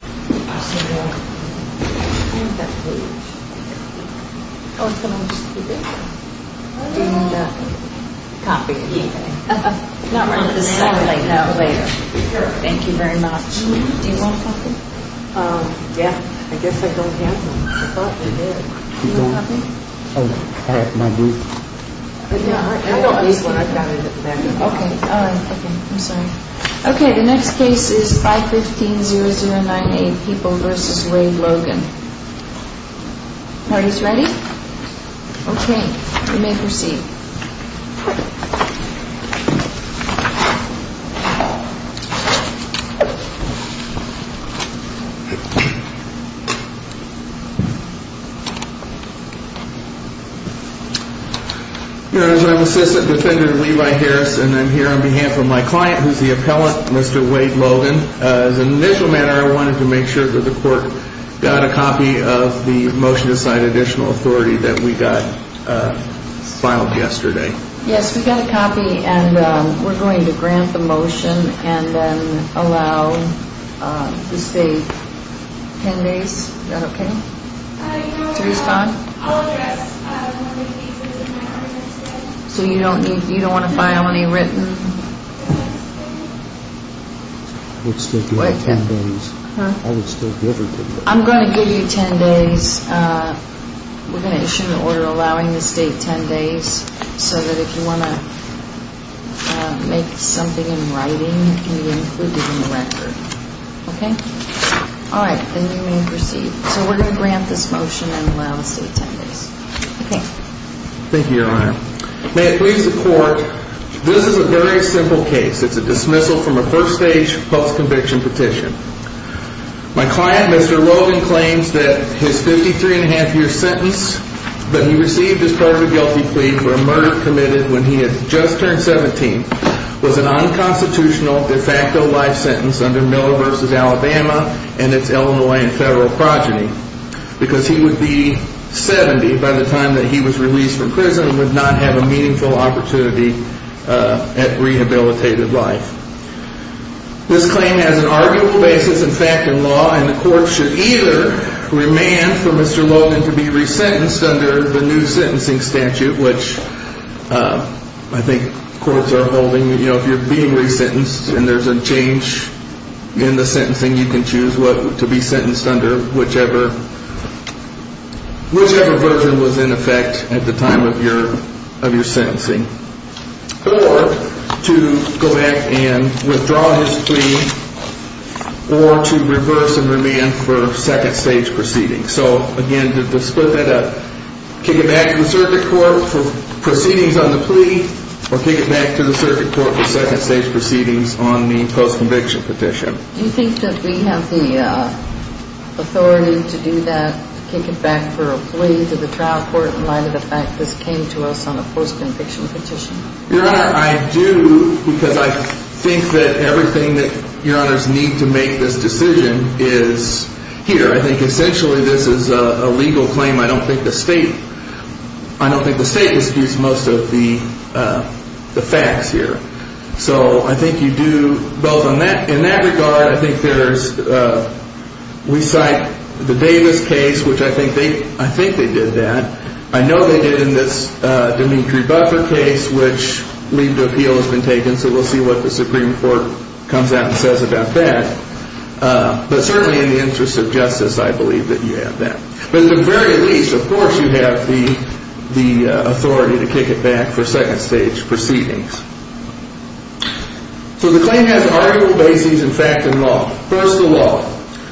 Page Are you going to copy? Copy. Not right now. Later. Thank you very much. Do you want a copy? Yeah. I guess I don't have one. I thought I did. Do you want a copy? Oh, I have my book. I don't use what I've got in the bag. Okay. The next case is 515-0098, People v. Wade Logan. Party's ready? Okay. You may proceed. As an assistant defendant of Levi Harris and here on behalf of my client who is the appellant, Mr. Wade Logan, as an initial matter I wanted to make sure that the court got a copy of the motion to cite additional authority that we got filed yesterday. Yes, we got a copy and we're going to grant the motion and then allow the state ten days. Is that okay? I'll address one of the cases. So you don't want to file any written? I'm going to give you ten days. We're going to issue an order allowing the state ten days so that if you want to make something in writing, it can be included in the record. Okay? All right. Then you may proceed. So we're going to grant this motion and allow the state ten days. Okay. Thank you, Your Honor. May it please the court, this is a very simple case. It's a dismissal from a first stage post-conviction petition. My client, Mr. Logan, claims that his 53 and a half year sentence that he received as part of a guilty plea for a murder committed when he had just turned 17 was an unconstitutional de facto life sentence under Miller v. Alabama and its Illinois and federal progeny. Because he would be 70 by the time that he was released from prison and would not have a meaningful opportunity at rehabilitated life. This claim has an arguable basis in fact in law and the court should either remand for Mr. Logan to be resentenced under the new sentencing statute, which I think courts are holding, you know, if you're being resentenced and there's a change in the sentencing, you can choose to be sentenced under whichever version was in effect at the time of your sentencing. Or to go back and withdraw his plea or to reverse and remand for second stage proceedings. So again, to split that up, kick it back to the circuit court for proceedings on the plea or kick it back to the circuit court for second stage proceedings on the post-conviction petition. Do you think that we have the authority to do that, kick it back for a plea to the trial court in light of the fact that this came to us on a post-conviction petition? Your Honor, I do, because I think that everything that Your Honors need to make this decision is here. I think essentially this is a legal claim. I don't think the state, I don't think the state disputes most of the facts here. So I think you do, both in that regard, I think there's, we cite the Davis case, which I think they did that. I know they did in this Dimitri Buffer case, which leave to appeal has been taken, so we'll see what the Supreme Court comes out and says about that. But certainly in the interest of justice, I believe that you have that. But at the very least, of course you have the authority to kick it back for second stage proceedings. So the claim has arguable bases in fact and law. First of all,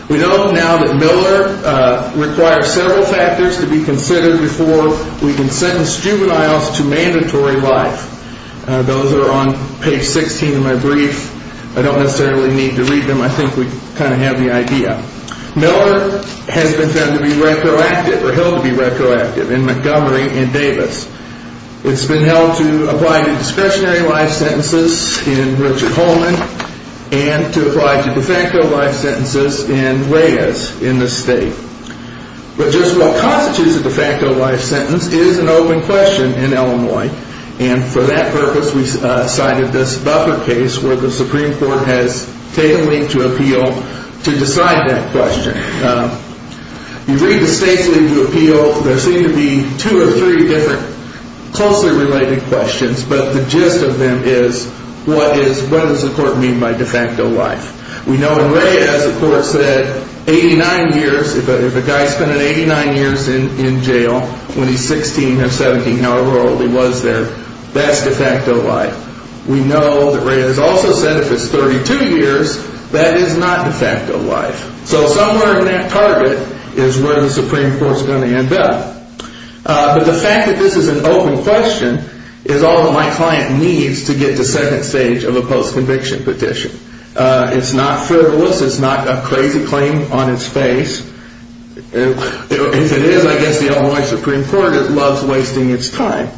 we know now that Miller requires several factors to be considered before we can sentence juveniles to mandatory life. Those are on page 16 of my brief. I don't necessarily need to read them. I think we kind of have the idea. Miller has been found to be retroactive or held to be retroactive in Montgomery and Davis. It's been held to apply to discretionary life sentences in Richard Coleman and to apply to de facto life sentences in Reyes in the state. But just what constitutes a de facto life sentence is an open question in Illinois. And for that purpose, we cited this Buffer case where the Supreme Court has taken me to appeal to decide that question. You read the state's legal appeal. There seem to be two or three different closely related questions. But the gist of them is what does the court mean by de facto life? We know in Reyes the court said 89 years. If a guy has spent 89 years in jail when he's 16 or 17, however old he was there, that's de facto life. We know that Reyes also said if it's 32 years, that is not de facto life. So somewhere in that target is where the Supreme Court is going to end up. But the fact that this is an open question is all that my client needs to get to second stage of a post-conviction petition. It's not frivolous. It's not a crazy claim on its face. If it is, I guess the Illinois Supreme Court loves wasting its time.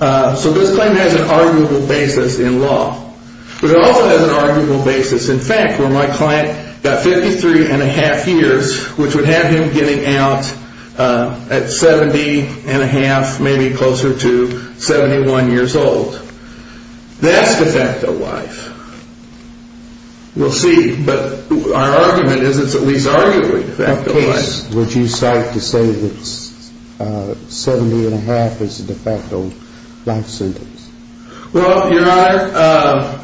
So this claim has an arguable basis in law. But it also has an arguable basis in fact where my client got 53 1⁄2 years, which would have him getting out at 70 1⁄2, maybe closer to 71 years old. That's de facto life. We'll see. But our argument is it's at least arguably de facto life. What case would you cite to say that 70 1⁄2 is a de facto life sentence? Well, Your Honor,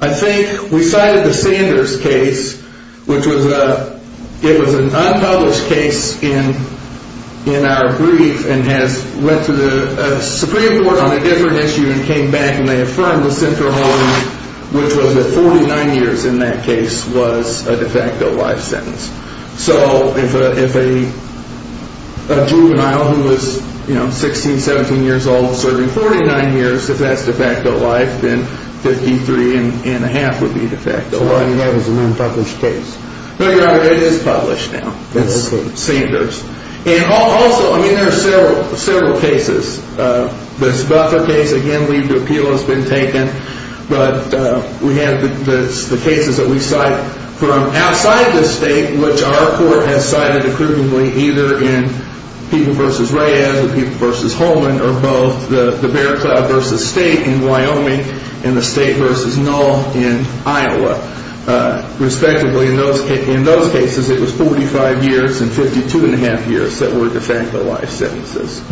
I think we cited the Sanders case, which was an unpublished case in our brief and has went to the Supreme Court on a different issue and came back and they affirmed the central harm, which was that 49 years in that case was a de facto life sentence. So if a juvenile who was 16, 17 years old serving 49 years, if that's de facto life, then 53 1⁄2 would be de facto life. So what you have is an unpublished case. No, Your Honor, it is published now. That's okay. It's Sanders. And also, I mean, there are several cases. This Buffer case, again, leave to appeal has been taken. But we have the cases that we cite from outside the state, which our court has cited approvingly either in People v. Reyes or People v. Holman or both the Bear Cloud v. State in Wyoming and the State v. Null in Iowa, respectively. In those cases, it was 45 years and 52 1⁄2 years that were de facto life sentences.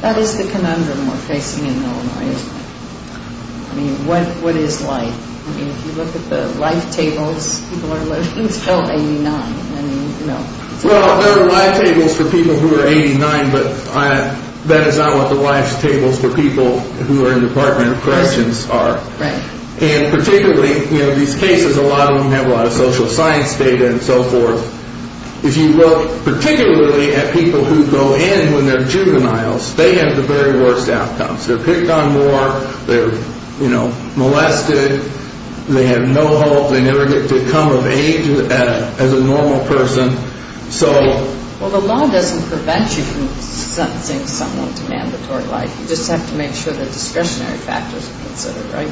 That is the conundrum we're facing in Null and Reyes. I mean, what is life? I mean, if you look at the life tables, people are living until 89. I mean, you know. Well, there are life tables for people who are 89, but that is not what the life tables for people who are in Department of Corrections are. Right. And particularly, you know, these cases, a lot of them have a lot of social science data and so forth. If you look particularly at people who go in when they're juveniles, they have the very worst outcomes. They're picked on more. They're, you know, molested. They have no hope. They never get to come of age as a normal person. So. Well, the law doesn't prevent you from sentencing someone to mandatory life. You just have to make sure that discretionary factors are considered, right?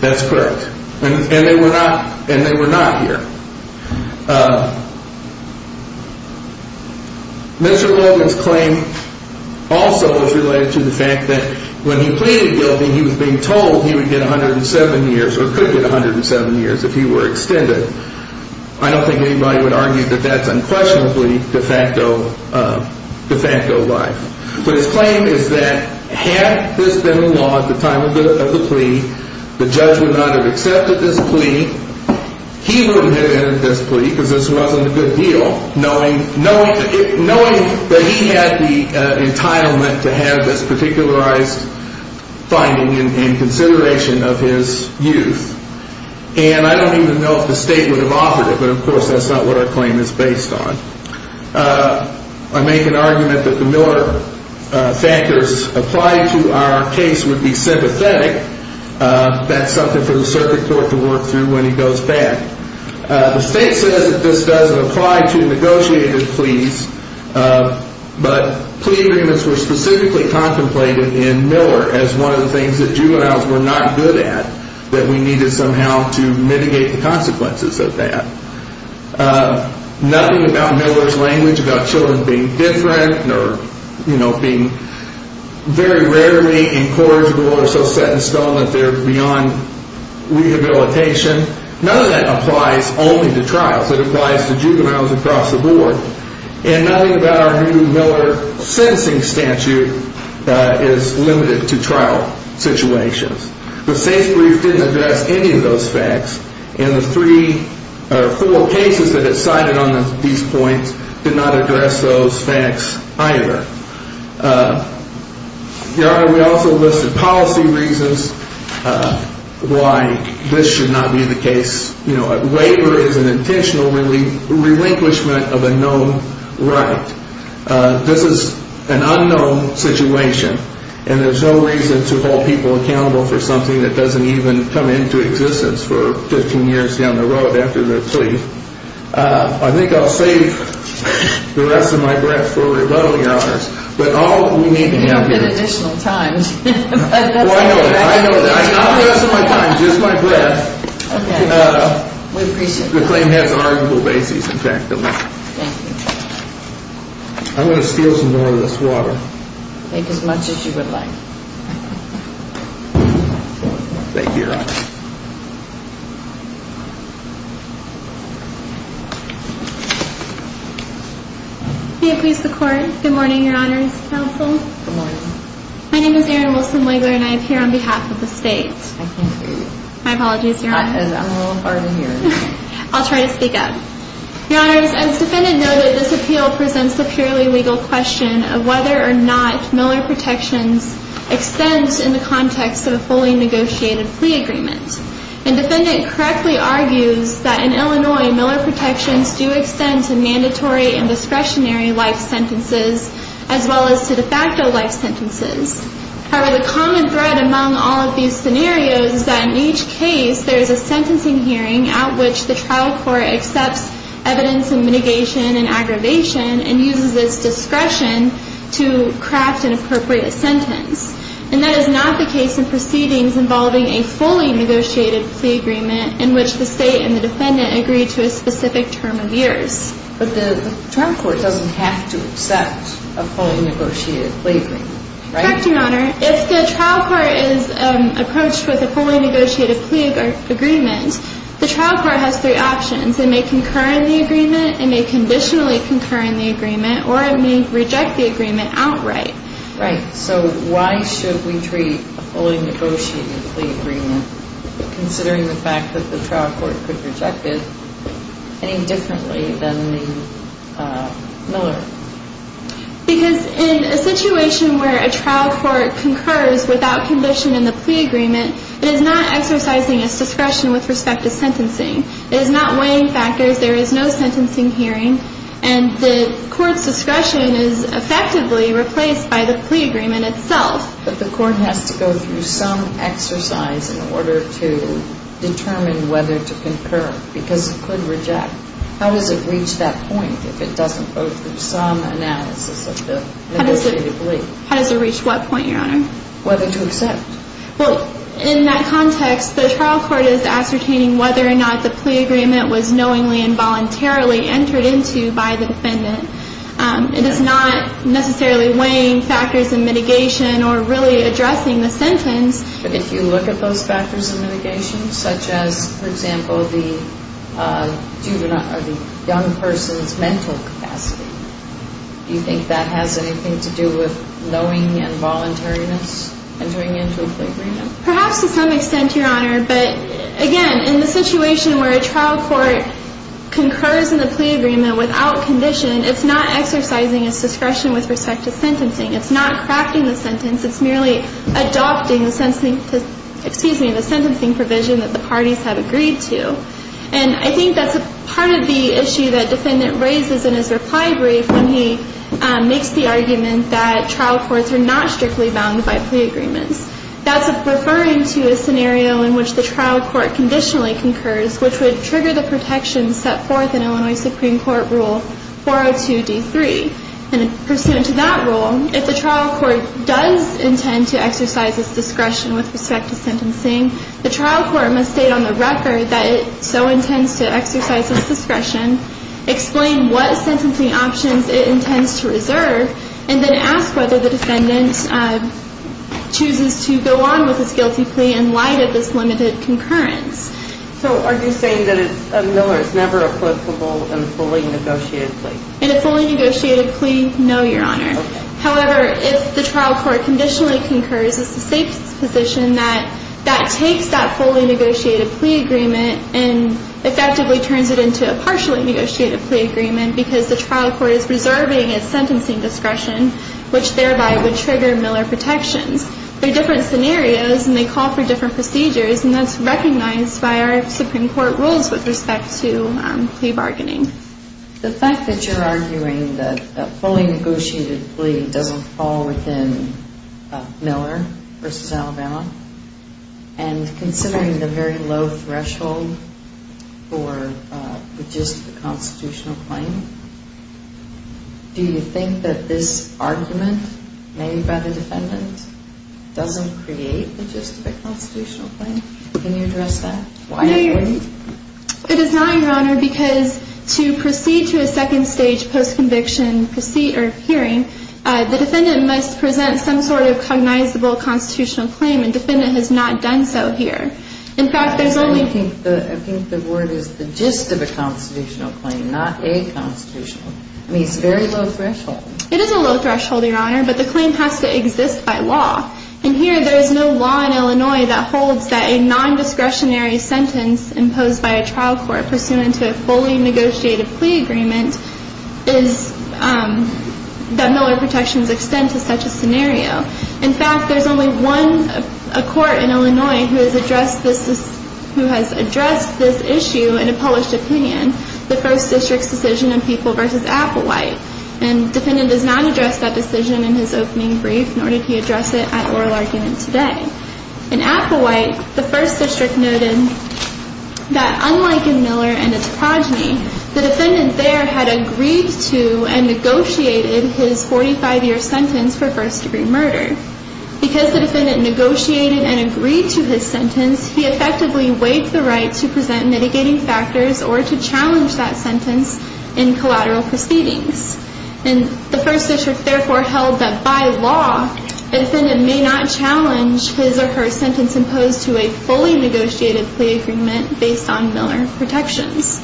That's correct. And they were not here. Mr. Logan's claim also is related to the fact that when he pleaded guilty, he was being told he would get 107 years or could get 107 years if he were extended. I don't think anybody would argue that that's unquestionably de facto life. But his claim is that had this been law at the time of the plea, the judge would not have accepted this plea. He wouldn't have entered this plea because this wasn't a good deal, knowing that he had the entitlement to have this particularized finding and consideration of his youth. And I don't even know if the state would have offered it, but, of course, that's not what our claim is based on. I make an argument that the Miller factors applied to our case would be sympathetic. That's something for the circuit court to work through when he goes back. The state says that this doesn't apply to negotiated pleas, but plea agreements were specifically contemplated in Miller as one of the things that juveniles were not good at, that we needed somehow to mitigate the consequences of that. Nothing about Miller's language about children being different or being very rarely incorrigible or so set in stone that they're beyond rehabilitation. None of that applies only to trials. It applies to juveniles across the board. And nothing about our new Miller sentencing statute is limited to trial situations. The state's brief didn't address any of those facts, and the three or four cases that it cited on these points did not address those facts either. Your Honor, we also listed policy reasons why this should not be the case. You know, a waiver is an intentional relinquishment of a known right. This is an unknown situation, and there's no reason to hold people accountable for something that doesn't even come into existence for 15 years down the road after the plea. I think I'll save the rest of my breath for rebuttal, Your Honors. But all we need to have here- You don't get additional time. Well, I know that. I know that. I got the rest of my time, just my breath. Okay. We appreciate that. The claim has arguable bases, in fact. Thank you. I'm going to steal some more of this water. Take as much as you would like. Thank you, Your Honor. May it please the Court. Good morning, Your Honors. Counsel. Good morning. My name is Erin Wilson-Wigler, and I appear on behalf of the State. I can't hear you. My apologies, Your Honor. I'm a little hard of hearing. I'll try to speak up. Your Honors, as the defendant noted, this appeal presents a purely legal question of whether or not Miller Protections extends in the context of a fully negotiated plea agreement. The defendant correctly argues that in Illinois, Miller Protections do extend to mandatory and discretionary life sentences, as well as to de facto life sentences. However, the common thread among all of these scenarios is that in each case, there is a sentencing hearing at which the trial court accepts evidence of mitigation and aggravation and uses its discretion to craft and appropriate a sentence. And that is not the case in proceedings involving a fully negotiated plea agreement in which the State and the defendant agree to a specific term of years. But the trial court doesn't have to accept a fully negotiated plea agreement, right? Correct, Your Honor. If the trial court is approached with a fully negotiated plea agreement, the trial court has three options. It may concur in the agreement, it may conditionally concur in the agreement, or it may reject the agreement outright. Right. So why should we treat a fully negotiated plea agreement, considering the fact that the trial court could reject it, any differently than the Miller? Because in a situation where a trial court concurs without condition in the plea agreement, it is not exercising its discretion with respect to sentencing. It is not weighing factors, there is no sentencing hearing, and the court's discretion is effectively replaced by the plea agreement itself. But the court has to go through some exercise in order to determine whether to concur, because it could reject. How does it reach that point if it doesn't go through some analysis of the negotiated plea? How does it reach what point, Your Honor? Whether to accept. Well, in that context, the trial court is ascertaining whether or not the plea agreement was knowingly and voluntarily entered into by the defendant. It is not necessarily weighing factors in mitigation or really addressing the sentence. But if you look at those factors in mitigation, such as, for example, the juvenile or the young person's mental capacity, do you think that has anything to do with knowing and voluntariness entering into a plea agreement? Perhaps to some extent, Your Honor. But again, in the situation where a trial court concurs in the plea agreement without condition, it's not exercising its discretion with respect to sentencing. It's not crafting the sentence. It's merely adopting the sentencing provision that the parties have agreed to. And I think that's part of the issue that the defendant raises in his reply brief when he makes the argument that trial courts are not strictly bound by plea agreements. That's referring to a scenario in which the trial court conditionally concurs, which would trigger the protections set forth in Illinois Supreme Court Rule 402D3. And pursuant to that rule, if the trial court does intend to exercise its discretion with respect to sentencing, the trial court must state on the record that it so intends to exercise its discretion, explain what sentencing options it intends to reserve, and then ask whether the defendant chooses to go on with his guilty plea in light of this limited concurrence. So are you saying that Miller is never a plicable and fully negotiated plea? In a fully negotiated plea, no, Your Honor. Okay. However, if the trial court conditionally concurs, it's the state's position that that takes that fully negotiated plea agreement and effectively turns it into a partially negotiated plea agreement because the trial court is reserving its sentencing discretion, which thereby would trigger Miller protections. They're different scenarios, and they call for different procedures, and that's recognized by our Supreme Court rules with respect to plea bargaining. The fact that you're arguing that a fully negotiated plea doesn't fall within Miller v. Alabama and considering the very low threshold for the gist of a constitutional claim, do you think that this argument made by the defendant doesn't create the gist of a constitutional claim? Can you address that? It is not, Your Honor, because to proceed to a second stage post-conviction hearing, the defendant must present some sort of cognizable constitutional claim, and the defendant has not done so here. I think the word is the gist of a constitutional claim, not a constitutional. I mean, it's a very low threshold. It is a low threshold, Your Honor, but the claim has to exist by law. And here there is no law in Illinois that holds that a nondiscretionary sentence imposed by a trial court pursuant to a fully negotiated plea agreement is that Miller protections extend to such a scenario. In fact, there's only one court in Illinois who has addressed this issue in a published opinion, the First District's decision in People v. Applewhite, and the defendant has not addressed that decision in his opening brief, nor did he address it at oral argument today. In Applewhite, the First District noted that unlike in Miller and its progeny, the defendant there had agreed to and negotiated his 45-year sentence for first-degree murder. Because the defendant negotiated and agreed to his sentence, he effectively waived the right to present mitigating factors or to challenge that sentence in collateral proceedings. And the First District therefore held that by law, the defendant may not challenge his or her sentence imposed to a fully negotiated plea agreement based on Miller protections.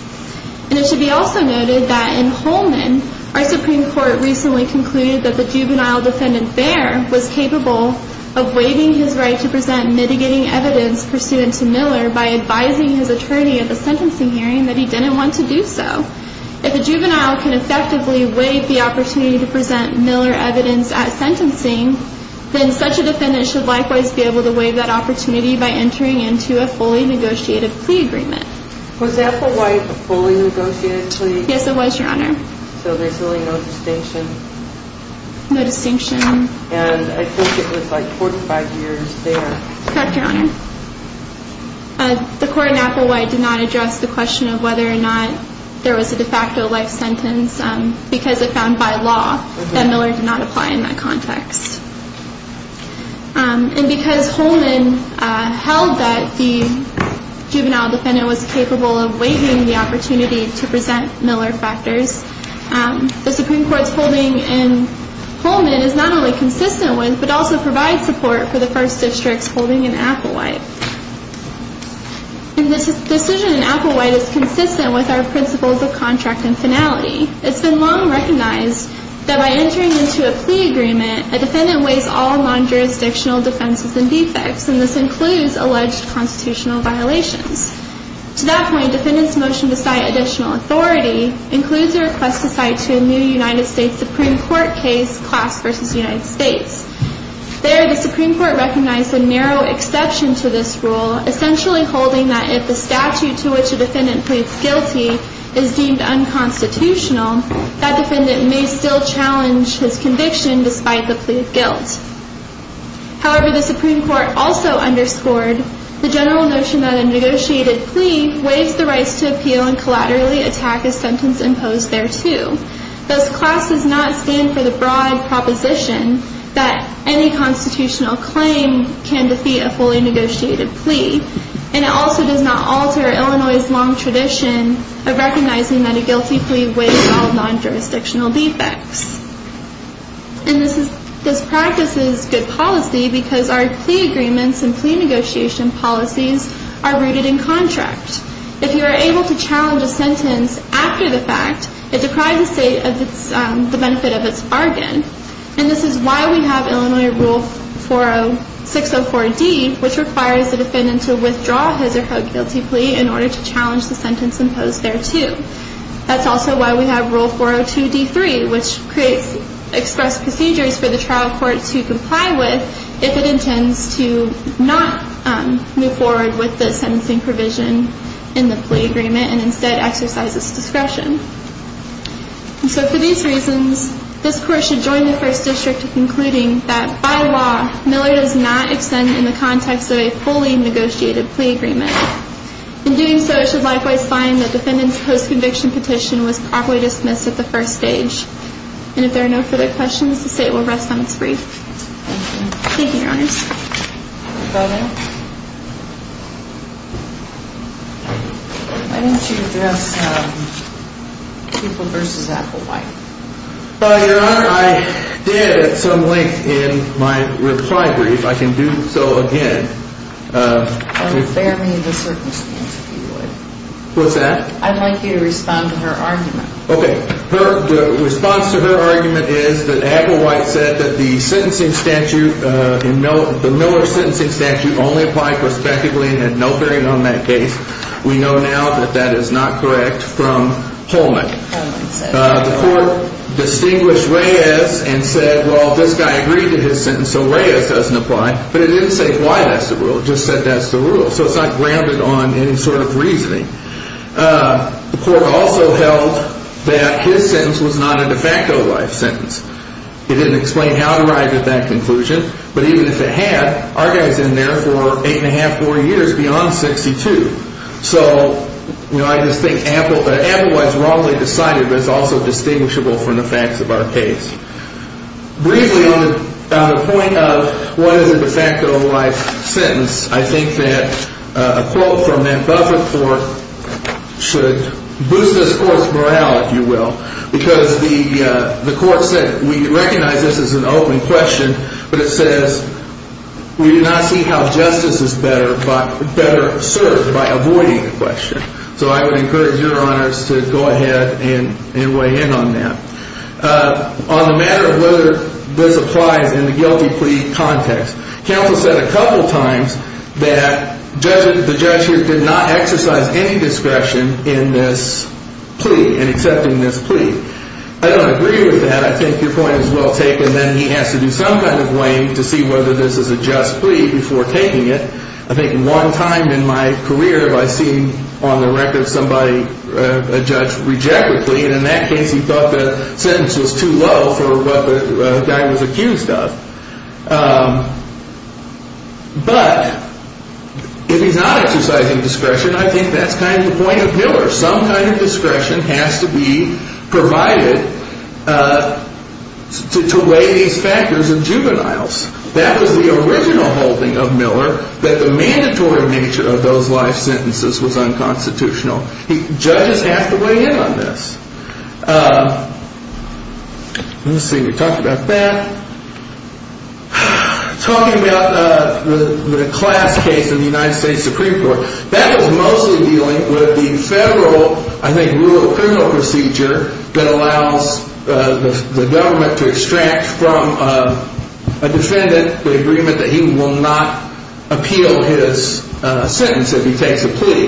And it should be also noted that in Holman, our Supreme Court recently concluded that the juvenile defendant there was capable of waiving his right to present mitigating evidence pursuant to Miller by advising his attorney at the sentencing hearing that he didn't want to do so. If a juvenile can effectively waive the opportunity to present Miller evidence at sentencing, then such a defendant should likewise be able to waive that opportunity by entering into a fully negotiated plea agreement. Was Applewhite a fully negotiated plea? Yes, it was, Your Honor. So there's really no distinction? No distinction. And I think it was like 45 years there. Correct, Your Honor. The court in Applewhite did not address the question of whether or not there was a de facto life sentence because it found by law that Miller did not apply in that context. And because Holman held that the juvenile defendant was capable of waiving the opportunity to present Miller factors, the Supreme Court's holding in Holman is not only consistent with but also provides support for the first district's holding in Applewhite. And this decision in Applewhite is consistent with our principles of contract and finality. It's been long recognized that by entering into a plea agreement, a defendant waives all non-jurisdictional defenses and defects, and this includes alleged constitutional violations. To that point, defendants' motion to cite additional authority includes a request to cite to a new United States Supreme Court case, Class v. United States. There, the Supreme Court recognized a narrow exception to this rule, essentially holding that if the statute to which a defendant pleads guilty is deemed unconstitutional, that defendant may still challenge his conviction despite the plea of guilt. However, the Supreme Court also underscored the general notion that a negotiated plea waives the rights to appeal and collaterally attack a sentence imposed thereto. Thus, Class does not stand for the broad proposition that any constitutional claim can defeat a fully negotiated plea, and it also does not alter Illinois' long tradition of recognizing that a guilty plea waives all non-jurisdictional defects. And this practice is good policy because our plea agreements and plea negotiation policies are rooted in contract. If you are able to challenge a sentence after the fact, it deprives the State of the benefit of its bargain. And this is why we have Illinois Rule 604D, which requires the defendant to withdraw his or her guilty plea in order to challenge the sentence imposed thereto. That's also why we have Rule 402D3, which creates express procedures for the trial court to comply with if it intends to not move forward with the sentencing provision in the plea agreement and instead exercise its discretion. And so for these reasons, this Court should join the First District in concluding that, by law, Miller does not extend in the context of a fully negotiated plea agreement. In doing so, it should likewise find that the defendant's post-conviction petition was properly dismissed at the first stage. And if there are no further questions, the State will rest on its brief. Thank you, Your Honors. Why didn't you address people versus Applewhite? Your Honor, I did at some length in my reply brief. I can do so again. Bear me in the circumstance, if you would. What's that? I'd like you to respond to her argument. Okay. The response to her argument is that Applewhite said that the sentencing statute, the Miller sentencing statute, only applied prospectively and had no bearing on that case. We know now that that is not correct from Holman. The Court distinguished Reyes and said, well, this guy agreed to his sentence, so Reyes doesn't apply. But it didn't say why that's the rule. It just said that's the rule. So it's not grounded on any sort of reasoning. The Court also held that his sentence was not a de facto life sentence. It didn't explain how it arrived at that conclusion. But even if it had, our guy's in there for eight and a half, four years beyond 62. So, you know, I just think Applewhite's wrongly decided, but it's also distinguishable from the facts of our case. Briefly, on the point of what is a de facto life sentence, I think that a quote from that Buffett court should boost this Court's morale, if you will, because the Court said we recognize this is an open question, but it says we do not see how justice is better served by avoiding the question. So I would encourage your honors to go ahead and weigh in on that. On the matter of whether this applies in the guilty plea context, counsel said a couple times that the judge here did not exercise any discretion in this plea, in accepting this plea. I don't agree with that. I think your point is well taken. Then he has to do some kind of weighing to see whether this is a just plea before taking it. I think one time in my career have I seen on the record somebody, a judge, reject a plea. And in that case he thought the sentence was too low for what the guy was accused of. But if he's not exercising discretion, I think that's kind of the point of Miller. Some kind of discretion has to be provided to weigh these factors in juveniles. That was the original holding of Miller, that the mandatory nature of those life sentences was unconstitutional. Judges have to weigh in on this. Let's see, we talked about that. Talking about the class case in the United States Supreme Court, that was mostly dealing with the federal, I think, rural criminal procedure that allows the government to extract from a defendant the agreement that he will not appeal his sentence if he takes a plea.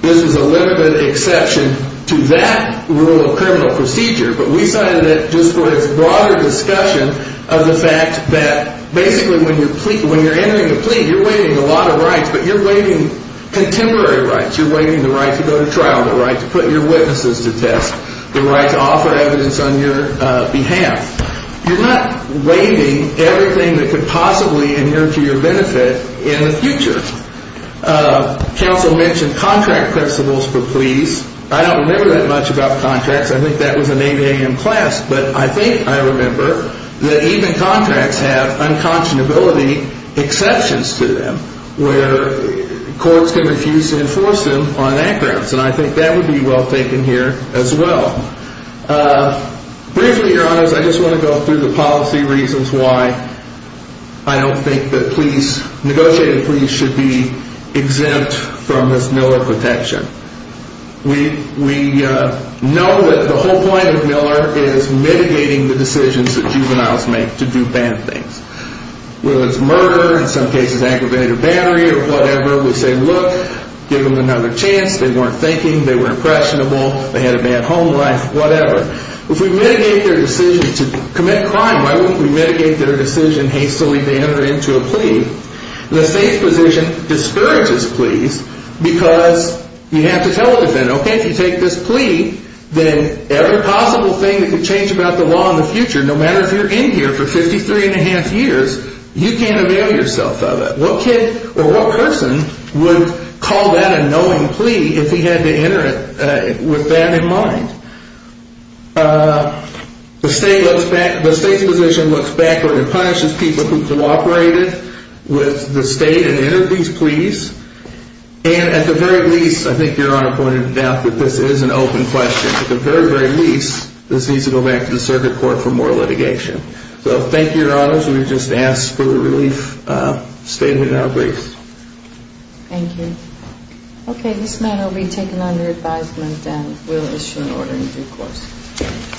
This was a limited exception to that rural criminal procedure, but we cited it just for its broader discussion of the fact that basically when you're entering a plea, you're waiving a lot of rights, but you're waiving contemporary rights. You're waiving the right to go to trial, the right to put your witnesses to test, the right to offer evidence on your behalf. You're not waiving everything that could possibly inherit to your benefit in the future. Counsel mentioned contract principles for pleas. I don't remember that much about contracts. I think that was an 8 a.m. class, but I think I remember that even contracts have unconscionability exceptions to them where courts can refuse to enforce them on that grounds, and I think that would be well taken here as well. Briefly, Your Honors, I just want to go through the policy reasons why I don't think that negotiated pleas should be exempt from this Miller protection. We know that the whole point of Miller is mitigating the decisions that juveniles make to do bad things. Whether it's murder, in some cases aggravated battery or whatever, we say, look, give them another chance. They weren't thinking. They were impressionable. They had a bad home life, whatever. If we mitigate their decision to commit crime, why wouldn't we mitigate their decision hastily to enter into a plea? The state's position discourages pleas because you have to tell it then, okay? If you take this plea, then every possible thing that could change about the law in the future, no matter if you're in here for 53 1⁄2 years, you can't avail yourself of it. What kid or what person would call that a knowing plea if he had to enter it with that in mind? The state's position looks backward and punishes people who cooperated with the state and entered these pleas. And at the very least, I think Your Honor pointed out that this is an open question. At the very, very least, this needs to go back to the circuit court for more litigation. So thank you, Your Honors. We've just asked for a relief statement now, please. Thank you. Okay, this matter will be taken under advisement and we'll issue an order in due course.